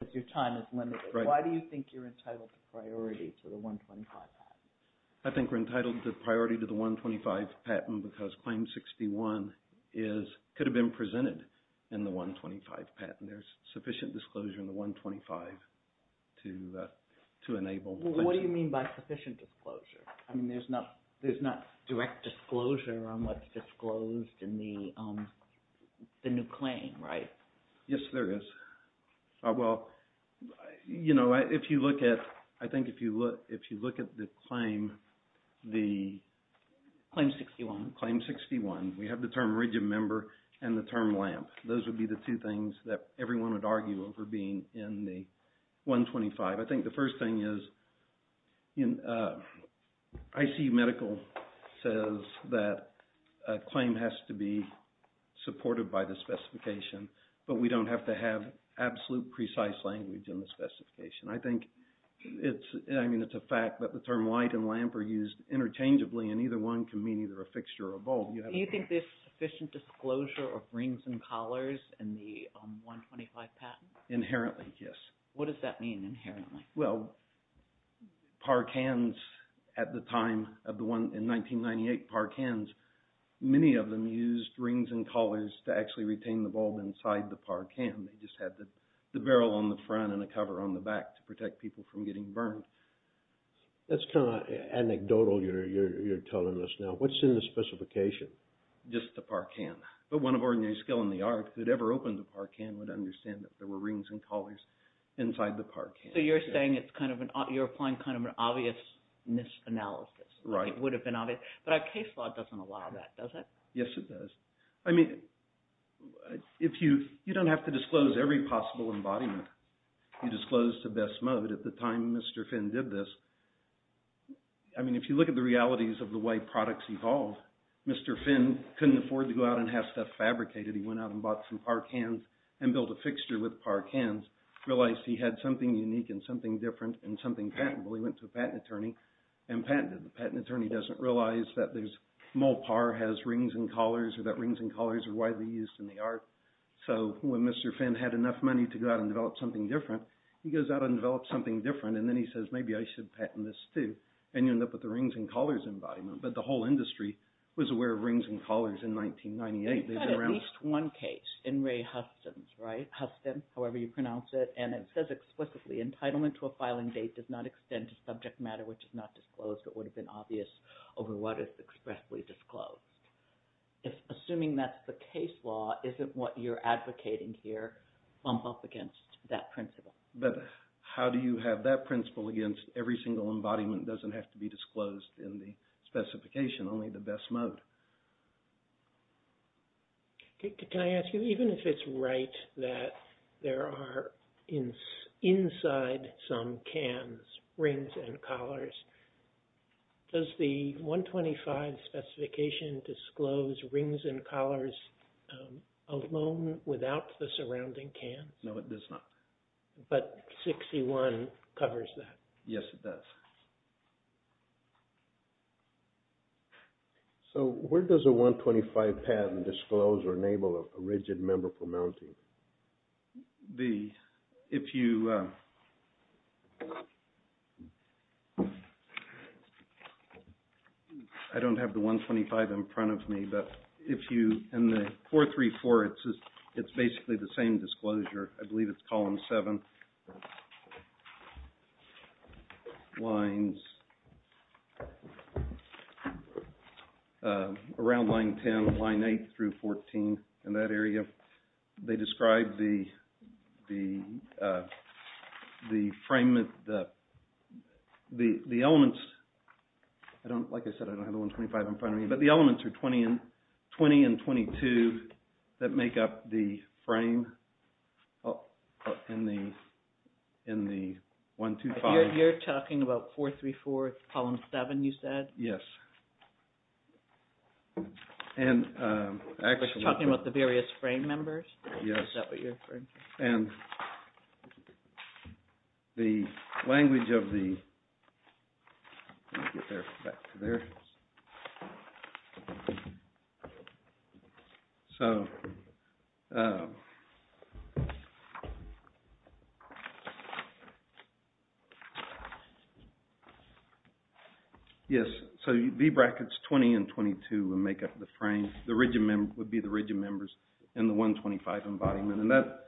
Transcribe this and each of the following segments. But your time is limited. Why do you think you're entitled to priority to the 125 patent? I think we're entitled to priority to the 125 patent because Claim 61 could have been presented in the 125 patent. There's sufficient disclosure in the 125 to enable... What do you mean by sufficient disclosure? I mean, there's not direct disclosure on what's disclosed in the new claim, right? Yes, there is. Well, you know, if you look at... I think if you look at the claim, the... Claim 61. Claim 61. We have the term region member and the term LAMP. Those would be the two things that everyone would argue over being in the 125. I think the first thing is ICU Medical says that a claim has to be supported by the specification, but we don't have to have absolute precise language in the specification. I think it's... I mean, it's a fact that the term light and LAMP are used interchangeably, and either one can mean either a fixture or a bulb. You have... Do you think there's sufficient disclosure of rings and collars in the 125 patent? Inherently, yes. What does that mean, inherently? Well, PARCANs at the time of the one in 1998, PARCANs, many of them used rings and collars to actually retain the bulb inside the PARCAN. They just had the barrel on the front and a cover on the back to protect people from getting burned. That's kind of anecdotal, you're telling us now. What's in the specification? Just the PARCAN. But one of ordinary skill in the art who'd ever opened a PARCAN would understand that there were rings and collars inside the PARCAN. So you're saying it's kind of an... you're applying kind of an obviousness analysis. Right. It would have been obvious. But our case law doesn't allow that, does it? Yes, it does. I mean, if you... you don't have to disclose every possible embodiment. You disclose the best mode. At the time Mr. Finn did this, I mean, if you look at the realities of the way products evolved, Mr. Finn couldn't afford to go out and have stuff fabricated. He went out and bought some PARCANs and built a fixture with PARCANs, realized he had something unique and something different and something patentable. He went to a patent attorney and patented it. The patent attorney doesn't realize that there's... Molpar has rings and collars or that rings and collars are widely used in the art. So when Mr. Finn had enough money to go out and develop something different, he goes out and develops something different and then he says, maybe I should patent this too. And you end up with the rings and collars embodiment. But the whole industry was aware of rings and collars in 1998. You've got at least one case in Ray Huston's, right? Huston, however you pronounce it. And it says explicitly, entitlement to a filing date does not extend to subject matter which is not disclosed. It would have been obvious over what is expressly disclosed. Assuming that's the case law, isn't what you're advocating here bump up against that principle? But how do you have that principle against every single embodiment doesn't have to be Can I ask you, even if it's right that there are inside some cans, rings and collars, does the 125 specification disclose rings and collars alone without the surrounding cans? No, it does not. But 61 covers that. Yes, it does. So where does a 125 patent disclose or enable a rigid member for mounting? The, if you, I don't have the 125 in front of me, but if you, in the 434, it's basically the same disclosure. I believe it's column 7, lines, around line 10, line 8 through 14 in that area. They describe the, the, the frame, the elements, I don't, like I said, I don't have the 125 in front of me, but the elements are 20 and 22 that make up the frame in the, in the 125. You're talking about 434, column 7, you said? Yes. And actually You're talking about the various frame members? Yes. Is that what you're referring to? And the language of the, let me get there, back to there. So, yes, so V brackets 20 and 22 make up the frame. The rigid member, would be the rigid members in the 125 embodiment. And that,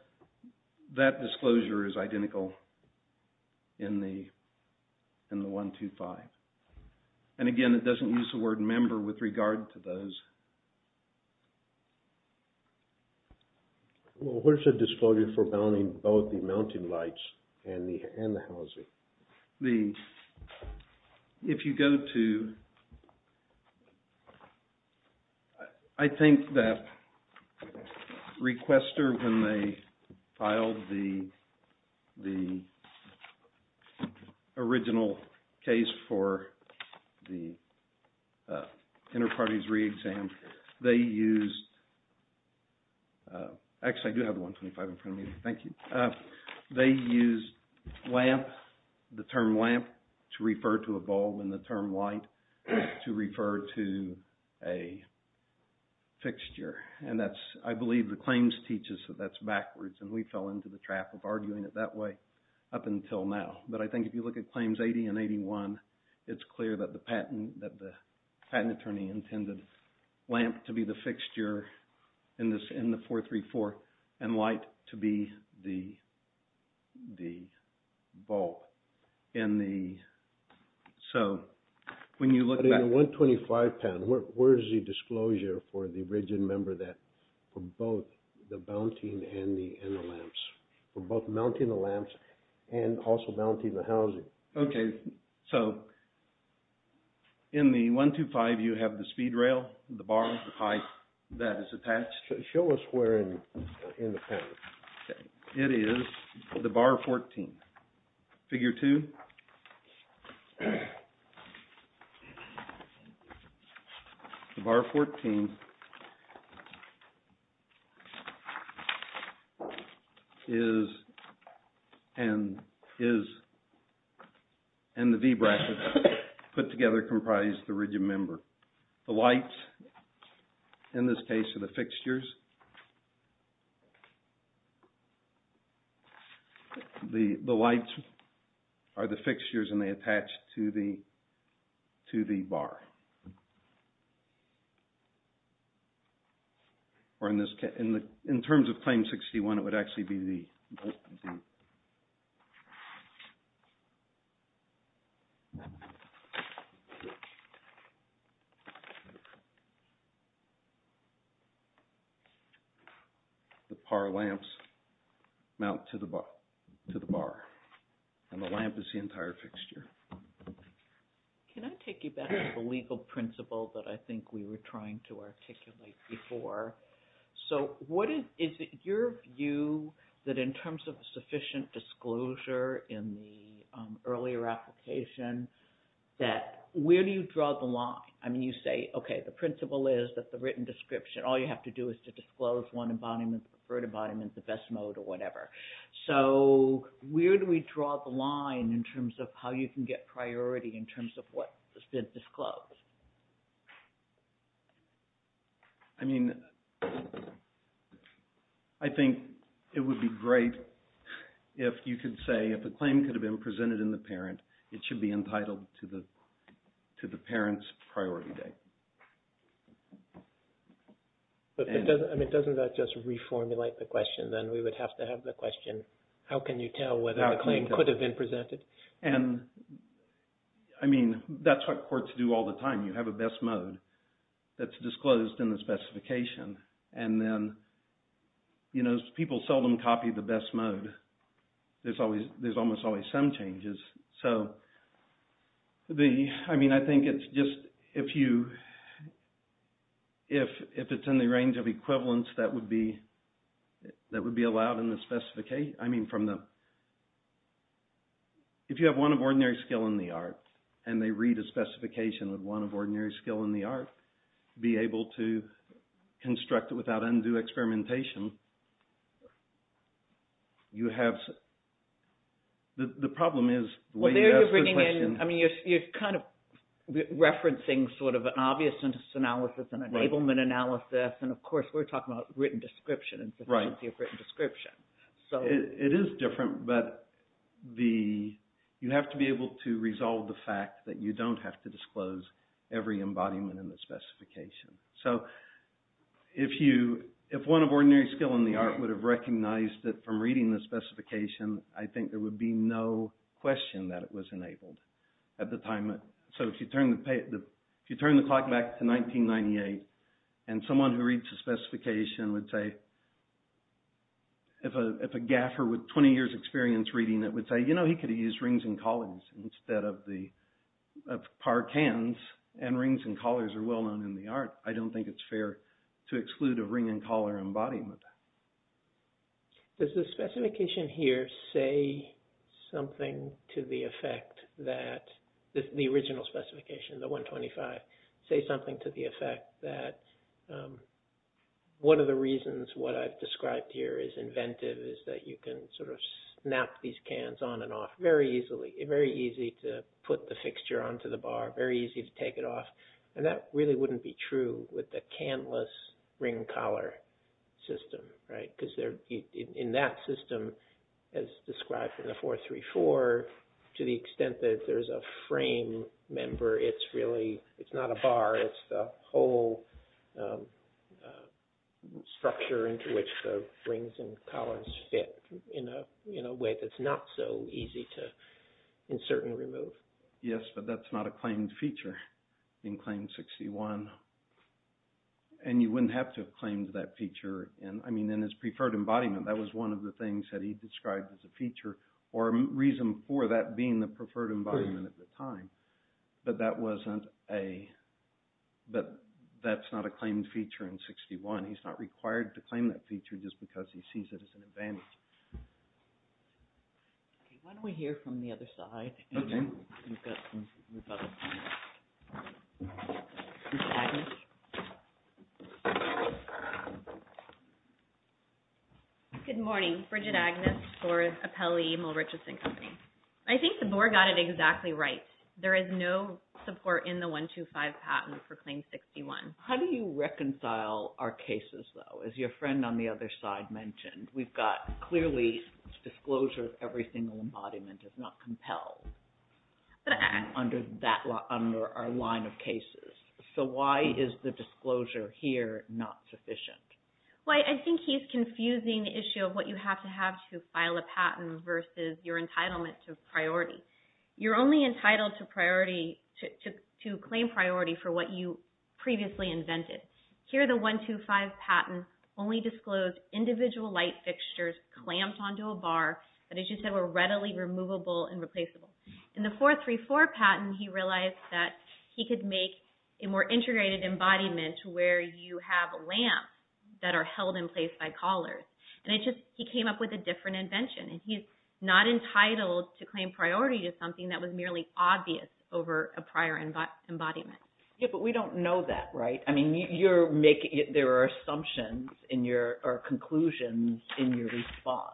that disclosure is identical in the, in the 125. And again, it doesn't use the word member with regard to those. Well, what is the disclosure for mounting both the mounting lights and the housing? The, if you go to, I think that Requester, when they filed the, the original case for the Interparties Re-Exam, they used, actually I do have the 125 in front of me. Thank you. They used lamp, the term lamp to refer to a bulb and the term light to refer to a fixture. And that's, I believe the claims teach us that that's backwards and we fell into the trap of arguing it that way up until now. But I think if you look at claims 80 and 81, it's clear that the patent, that the patent attorney intended lamp to be the fixture in this, in the 434 and light to be the, the bulb in the, so when you look back. In the 125 patent, where, where is the disclosure for the rigid member that, for both the mounting and the, and the lamps, for both mounting the lamps and also mounting the housing? Okay. So, in the 125, you have the speed rail, the bar, the pipe that is attached. Show us where in, in the patent. It is the bar 14. Figure 2. The bar 14 is, and is, and the V brackets put together comprise the rigid member. The lights, in this case, are the fixtures. The, the lights are the fixtures and they attach to the, to the bar. Or in this case, in the, in terms of claims 61, it would actually be the, the. The par lamps mount to the, to the bar. And the lamp is the entire fixture. Can I take you back to the legal principle that I think we were trying to articulate before? So, what is, is it your view that in terms of sufficient disclosure in the earlier application that, where do you draw the line? I mean, you say, okay, the principle is that the written description, all you have to do is to disclose one embodiment, the preferred embodiment, the best mode or whatever. So, where do we draw the line in terms of how you can get priority in terms of what is disclosed? I mean, I think it would be great if you could say if a claim could have been presented in the parent, it should be entitled to the, to the parent's priority date. But it doesn't, I mean, doesn't that just reformulate the question then? We would have to have the question, how can you tell whether the claim could have been presented? And, I mean, that's what courts do all the time. You have a best mode that's disclosed in the specification. And then, you know, people seldom copy the best mode. There's always, there's almost always some changes. So, the, I mean, I think it's just, if you, if it's in the range of equivalence that would be, that would be allowed in the specification. I mean, from the, if you have one of ordinary skill in the art, and they read a specification of one of ordinary skill in the art, be able to construct it without undue experimentation. You have, the problem is, the way you ask the question. Well, there you're bringing in, I mean, you're kind of referencing sort of an obvious analysis, an enablement analysis. And, of course, we're talking about written description, and consistency of written description. It is different, but the, you have to be able to resolve the fact that you don't have to disclose every embodiment in the specification. So, if you, if one of ordinary skill in the art would have recognized it from reading the specification, I think there would be no question that it was enabled at the time. So, if you turn the, if you turn the clock back to 1998, and someone who reads the specification would say, if a gaffer with 20 years experience reading it would say, you know, he could have used rings and collars instead of the, of par cans. And, rings and collars are well known in the art. I don't think it's fair to exclude a ring and collar embodiment. Does the specification here say something to the effect that, the original specification, the 125, say something to the effect that one of the reasons what I've described here is inventive is that you can sort of snap these cans on and off very easily. Very easy to put the fixture onto the bar. Very easy to take it off. And that really wouldn't be true with the canless ring collar system, right? Because there, in that system, as described in the 434, to the extent that there's a frame member, it's really, it's not a bar. It's the whole structure into which the rings and collars fit in a way that's not so easy to insert and remove. Yes, but that's not a claimed feature in Claim 61. And you wouldn't have to have claimed that feature in, I mean, in his preferred embodiment. That was one of the things that he described as a feature or a reason for that being the preferred embodiment at the time. But that wasn't a, that's not a claimed feature in 61. He's not required to claim that feature just because he sees it as an advantage. Why don't we hear from the other side? Okay. Good morning. Bridget Agnes for Appellee, Mill Richardson Company. I think the board got it exactly right. There is no support in the 125 patent for Claim 61. How do you reconcile our cases, though? As your friend on the other side mentioned, we've got clearly disclosure of every single embodiment is not compelled under that, under our line of cases. So why is the disclosure here not sufficient? Well, I think he's confusing the issue of what you have to have to file a patent versus your entitlement to priority. You're only entitled to priority, to claim priority for what you previously invented. Here, the 125 patent only disclosed individual light fixtures clamped onto a bar that, as you said, were readily removable and replaceable. In the 434 patent, he realized that he could make a more integrated embodiment where you have lamps that are held in place by collars. And he came up with a different invention. And he's not entitled to claim priority to something that was merely obvious over a prior embodiment. Yeah, but we don't know that, right? I mean, there are assumptions or conclusions in your response.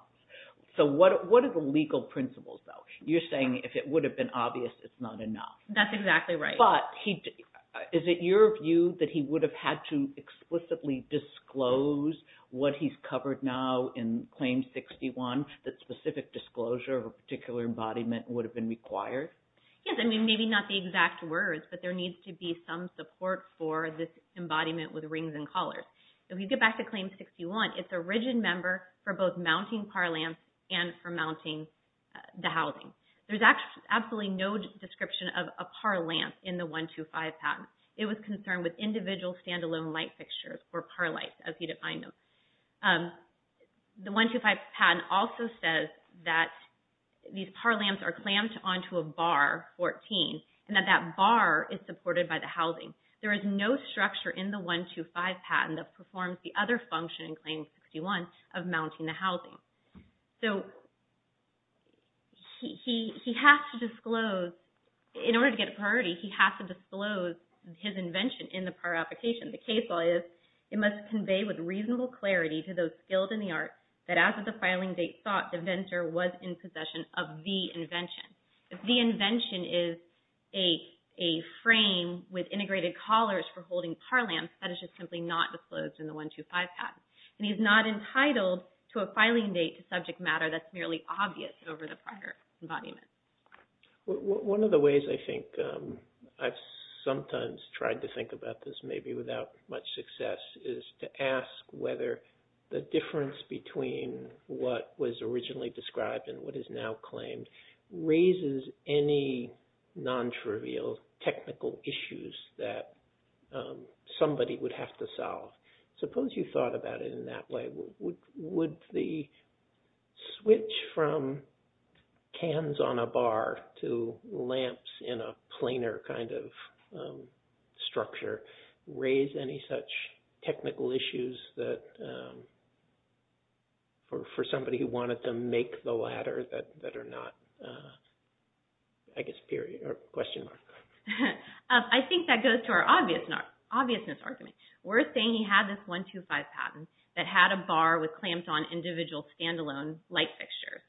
So what are the legal principles, though? You're saying if it would have been obvious, it's not enough. That's exactly right. But is it your view that he would have had to explicitly disclose what he's covered now in Claim 61, that specific disclosure of a particular embodiment would have been required? Yes. I mean, maybe not the exact words, but there needs to be some support for this embodiment with rings and collars. If you get back to Claim 61, it's a rigid member for both mounting PAR lamps and for mounting the housing. There's absolutely no description of a PAR lamp in the 125 patent. It was concerned with individual standalone light fixtures or PAR lights as he defined them. The 125 patent also says that these PAR lamps are clamped onto a bar, 14, and that that bar is supported by the housing. There is no structure in the 125 patent that performs the other function in Claim 61 of mounting the housing. So he has to disclose, in order to get a priority, he has to disclose his invention in the PAR application. The case law is, it must convey with reasonable clarity to those skilled in the arts that as of the filing date thought the vendor was in possession of the invention. If the invention is a frame with integrated collars for holding PAR lamps, that is just simply not disclosed in the 125 patent. And he's not entitled to a filing date to subject matter that's merely obvious over the prior embodiment. One of the ways I think I've sometimes tried to think about this, maybe without much success, is to ask whether the difference between what was originally described and what is now claimed raises any non-trivial technical issues that somebody would have to solve. Suppose you thought about it in that way. Would the switch from cans on a bar to lamps in a planar kind of structure raise any such technical issues for somebody who wanted to make the latter that are not, I guess, question mark? I think that goes to our obviousness argument. We're saying he had this 125 patent that had a bar with clamps on individual stand-alone light fixtures.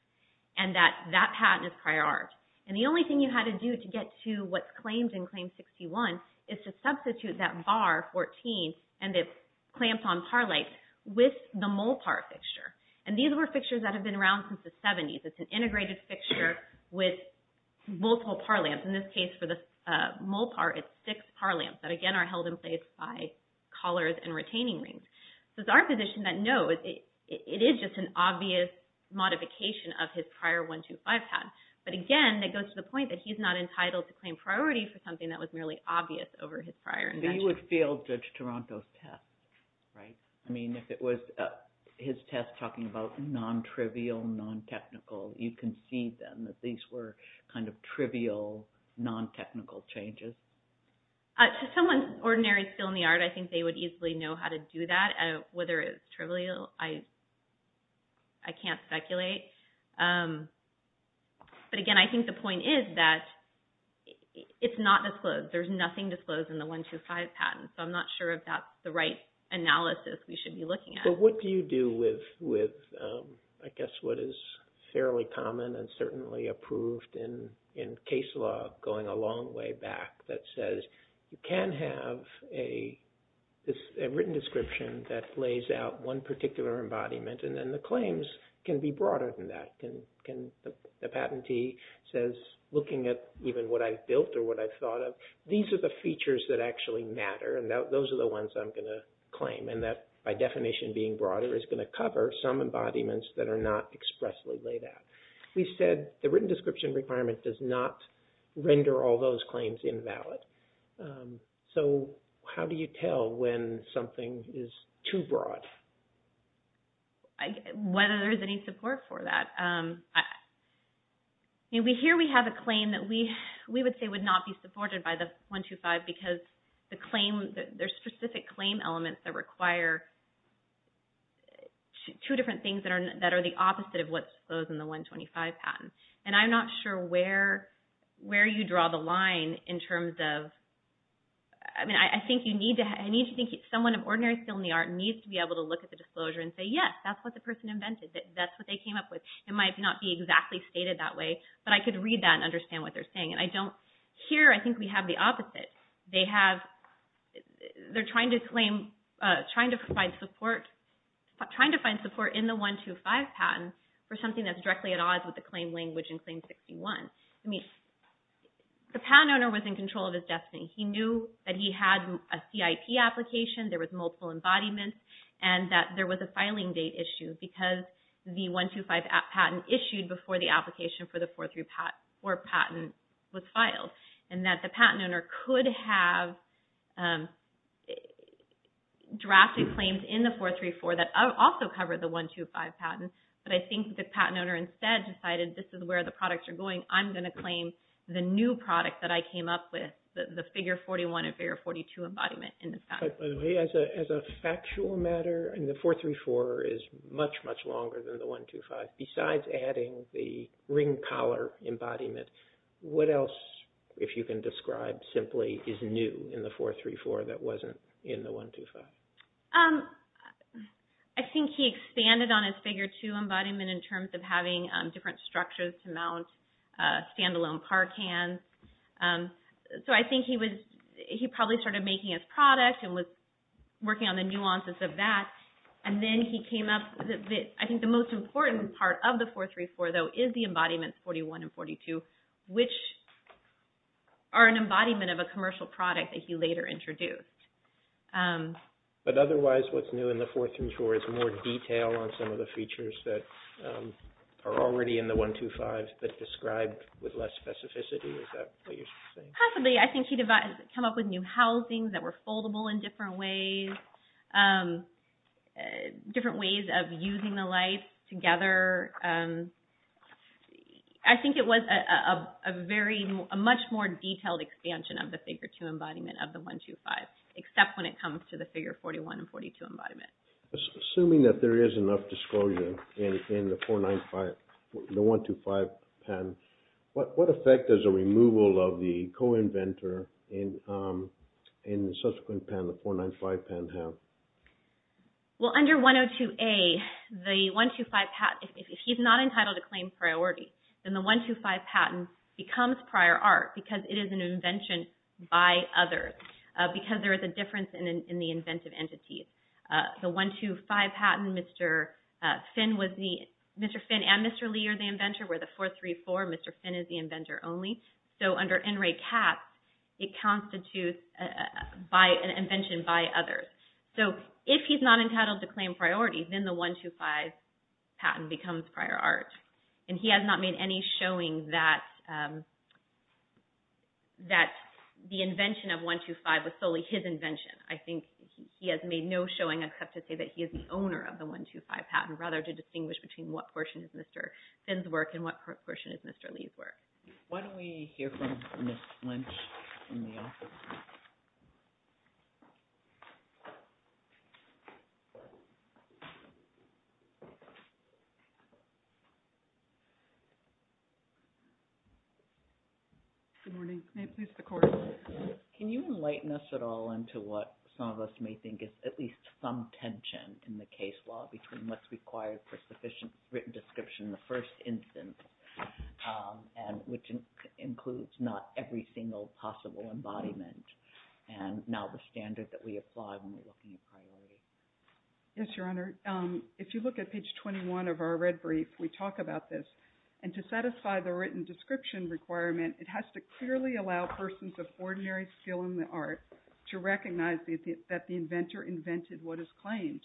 And that that patent is prioritized. And the only thing you had to do to get to what's claimed in Claim 61 is to substitute that bar, 14, and the clamps on PAR lights with the mole PAR fixture. And these were fixtures that have been around since the 70s. It's an integrated fixture with multiple PAR lamps. In this case, for the mole PAR, it's six PAR lamps that, again, are held in place by collars and retaining rings. So it's our position that, no, it is just an obvious modification of his prior 125 patent. But, again, that goes to the point that he's not entitled to claim priority for something that was merely obvious over his prior invention. He would fail Judge Toronto's test, right? I mean, if it was his test talking about non-trivial, non-technical, you can see, then, that these were kind of trivial, non-technical changes. To someone's ordinary skill in the art, I think they would easily know how to do that. Whether it's trivial, I can't speculate. But, again, I think the point is that it's not disclosed. There's nothing disclosed in the 125 patent. So I'm not sure if that's the right analysis we should be looking at. But what do you do with, I guess, what is fairly common and certainly approved in case law going a long way back that says, you can have a written description that lays out one particular embodiment, and then the claims can be broader than that. The patentee says, looking at even what I've built or what I've thought of, these are the features that actually matter. And those are the ones I'm going to claim. And that, by definition, being broader is going to cover some embodiments that are not expressly laid out. We said the written description requirement does not render all those claims invalid. So how do you tell when something is too broad? Whether there's any support for that. Here we have a claim that we would say would not be supported by the 125 because the claim – that would require two different things that are the opposite of what's disclosed in the 125 patent. And I'm not sure where you draw the line in terms of – I mean, I think you need to – I need to think someone of ordinary skill in the art needs to be able to look at the disclosure and say, yes, that's what the person invented. That's what they came up with. It might not be exactly stated that way, but I could read that and understand what they're saying. And I don't – here I think we have the opposite. They have – they're trying to claim – trying to provide support – trying to find support in the 125 patent for something that's directly at odds with the claim language in Claim 61. I mean, the patent owner was in control of his destiny. He knew that he had a CIP application, there was multiple embodiments, and that there was a filing date issue because the 125 patent issued before the application for the 434 patent was filed. And that the patent owner could have drafted claims in the 434 that also covered the 125 patent, but I think the patent owner instead decided this is where the products are going. I'm going to claim the new product that I came up with, the Figure 41 and Figure 42 embodiment in this patent. By the way, as a factual matter, and the 434 is much, much longer than the 125. Besides adding the ring collar embodiment, what else, if you can describe simply, is new in the 434 that wasn't in the 125? I think he expanded on his Figure 2 embodiment in terms of having different structures to mount standalone par cans. So I think he was – he probably started making his product and was working on the nuances of that. And then he came up – I think the most important part of the 434, though, is the embodiments 41 and 42, which are an embodiment of a commercial product that he later introduced. But otherwise what's new in the 434 is more detail on some of the features that are already in the 125 but described with less specificity, is that what you're saying? Possibly. I think he came up with new housings that were foldable in different ways. Different ways of using the lights together. I think it was a very – a much more detailed expansion of the Figure 2 embodiment of the 125, except when it comes to the Figure 41 and 42 embodiment. Assuming that there is enough disclosure in the 495 – the 125 patent, what effect does a removal of the co-inventor in the subsequent patent, the 495 patent, have? Well, under 102A, the 125 patent – if he's not entitled to claim priority, then the 125 patent becomes prior art because it is an invention by others, because there is a difference in the inventive entities. The 125 patent, Mr. Finn was the – Mr. Finn and Mr. Lee are the inventor, where the 434, Mr. Finn is the inventor only. So, under NRACAP, it constitutes an invention by others. So, if he's not entitled to claim priority, then the 125 patent becomes prior art. And he has not made any showing that the invention of 125 was solely his invention. I think he has made no showing except to say that he is the owner of the 125 patent, rather to distinguish between what portion is Mr. Finn's work and what portion is Mr. Lee's work. Why don't we hear from Ms. Lynch in the office? Good morning. May I please have the floor? Can you enlighten us at all into what some of us may think is at least some tension in the case law between what's required for sufficient written description in the first instance, which includes not every single possible embodiment, and now the standard that we apply when we're looking at priority? Yes, Your Honor. If you look at page 21 of our red brief, we talk about this. And to satisfy the written description requirement, it has to clearly allow persons of ordinary skill in the art to recognize that the inventor invented what is claimed.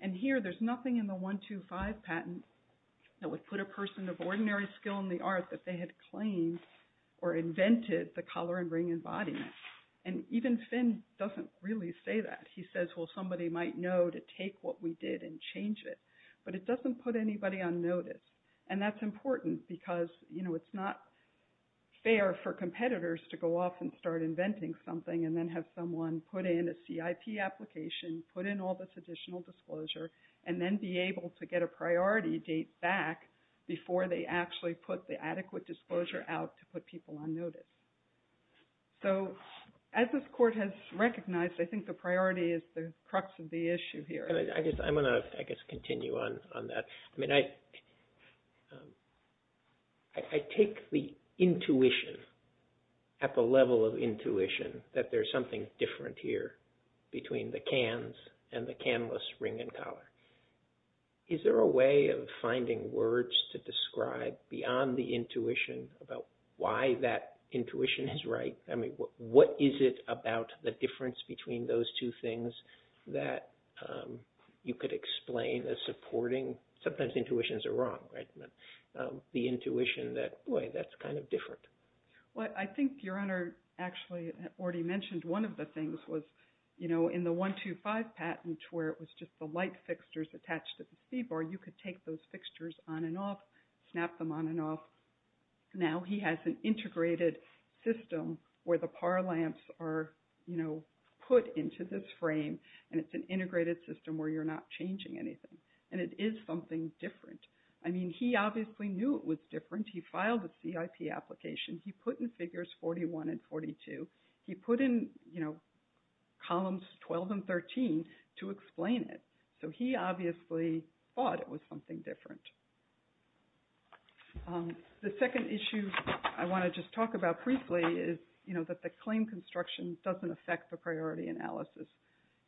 And here, there's nothing in the 125 patent that would put a person of ordinary skill in the art that they had claimed or invented the collar and ring embodiment. And even Finn doesn't really say that. He says, well, somebody might know to take what we did and change it. But it doesn't put anybody on notice. And that's important because it's not fair for competitors to go off and start inventing something and then have someone put in a CIP application, put in all this additional disclosure, and then be able to get a priority date back before they actually put the adequate disclosure out to put people on notice. So as this Court has recognized, I think the priority is the crux of the issue here. I'm going to, I guess, continue on that. I mean, I take the intuition at the level of intuition that there's something different here between the cans and the canless ring and collar. Is there a way of finding words to describe beyond the intuition about why that intuition is right? I mean, what is it about the difference between those two things that you could explain as supporting? Sometimes intuitions are wrong, right? The intuition that, boy, that's kind of different. Well, I think Your Honor actually already mentioned one of the things was, you know, in the 125 patent where it was just the light fixtures attached to the speed bar, you could take those fixtures on and off, snap them on and off. Now he has an integrated system where the PAR lamps are, you know, put into this frame, and it's an integrated system where you're not changing anything. And it is something different. I mean, he obviously knew it was different. He filed a CIP application. He put in figures 41 and 42. He put in, you know, columns 12 and 13 to explain it. So he obviously thought it was something different. The second issue I want to just talk about briefly is, you know, that the claim construction doesn't affect the priority analysis.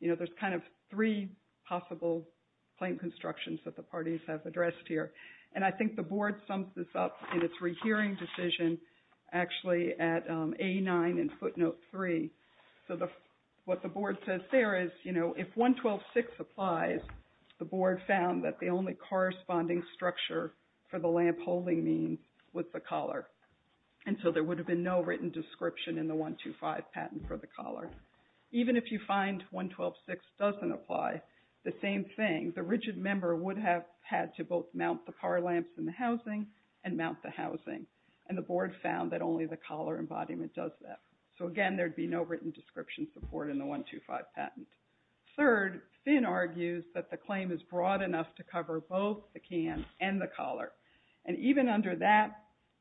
You know, there's kind of three possible claim constructions that the parties have addressed here. And I think the Board sums this up in its rehearing decision actually at A9 in footnote 3. So what the Board says there is, you know, if 112.6 applies, the Board found that the only corresponding structure for the lamp holding means was the collar. And so there would have been no written description in the 125 patent for the collar. Even if you find 112.6 doesn't apply, the same thing, the rigid member would have had to both mount the PAR lamps in the housing and mount the housing. And the Board found that only the collar embodiment does that. So again, there would be no written description support in the 125 patent. Third, Finn argues that the claim is broad enough to cover both the can and the collar. And even under that,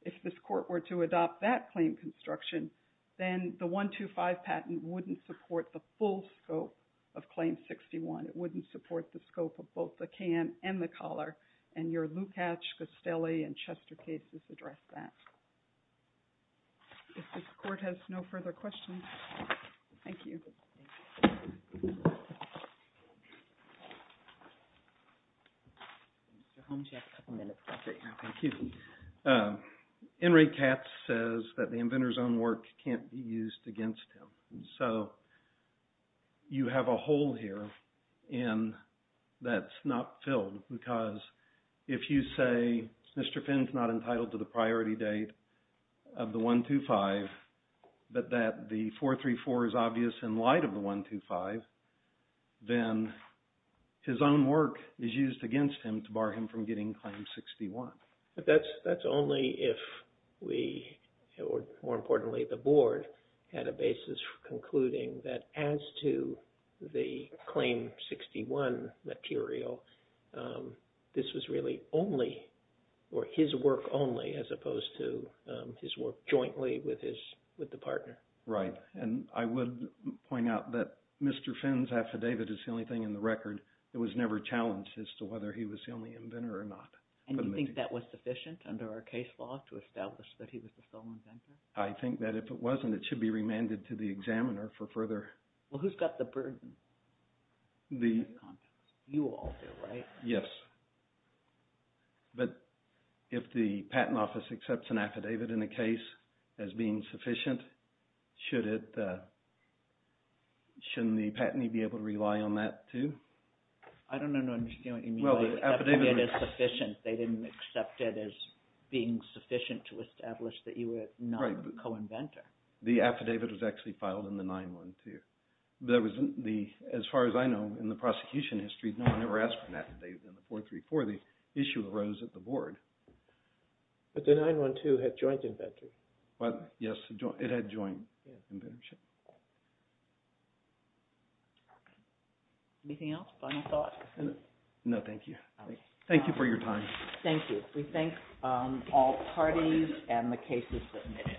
if this Court were to adopt that claim construction, then the 125 patent wouldn't support the full scope of Claim 61. It wouldn't support the scope of both the can and the collar. And your Lukacs, Costelli, and Chester cases address that. If this Court has no further questions, thank you. Enri Katz says that the inventor's own work can't be used against him. So you have a hole here, and that's not filled. Because if you say Mr. Finn's not entitled to the priority date of the 125, but that the 434 is obvious in light of the 125, then his own work is used against him to bar him from getting Claim 61. But that's only if we, or more importantly the Board, had a basis for concluding that as to the Claim 61 material, this was really only, or his work only, as opposed to his work jointly with the partner. Right. And I would point out that Mr. Finn's affidavit is the only thing in the record that was never challenged as to whether he was the only inventor or not. And you think that was sufficient under our case law to establish that he was the sole inventor? I think that if it wasn't, it should be remanded to the examiner for further... Well, who's got the burden? You all do, right? Yes. But if the Patent Office accepts an affidavit in a case as being sufficient, shouldn't the patentee be able to rely on that too? I don't understand what you mean by affidavit as sufficient. They didn't accept it as being sufficient to establish that you were not the co-inventor. The affidavit was actually filed in the 9-1-2. As far as I know, in the prosecution history, no one ever asked for an affidavit in the 434. The issue arose at the Board. But the 9-1-2 had joint inventories. Yes, it had joint inventorship. Anything else? Final thoughts? No, thank you. Thank you for your time. Thank you. We thank all parties and the cases submitted.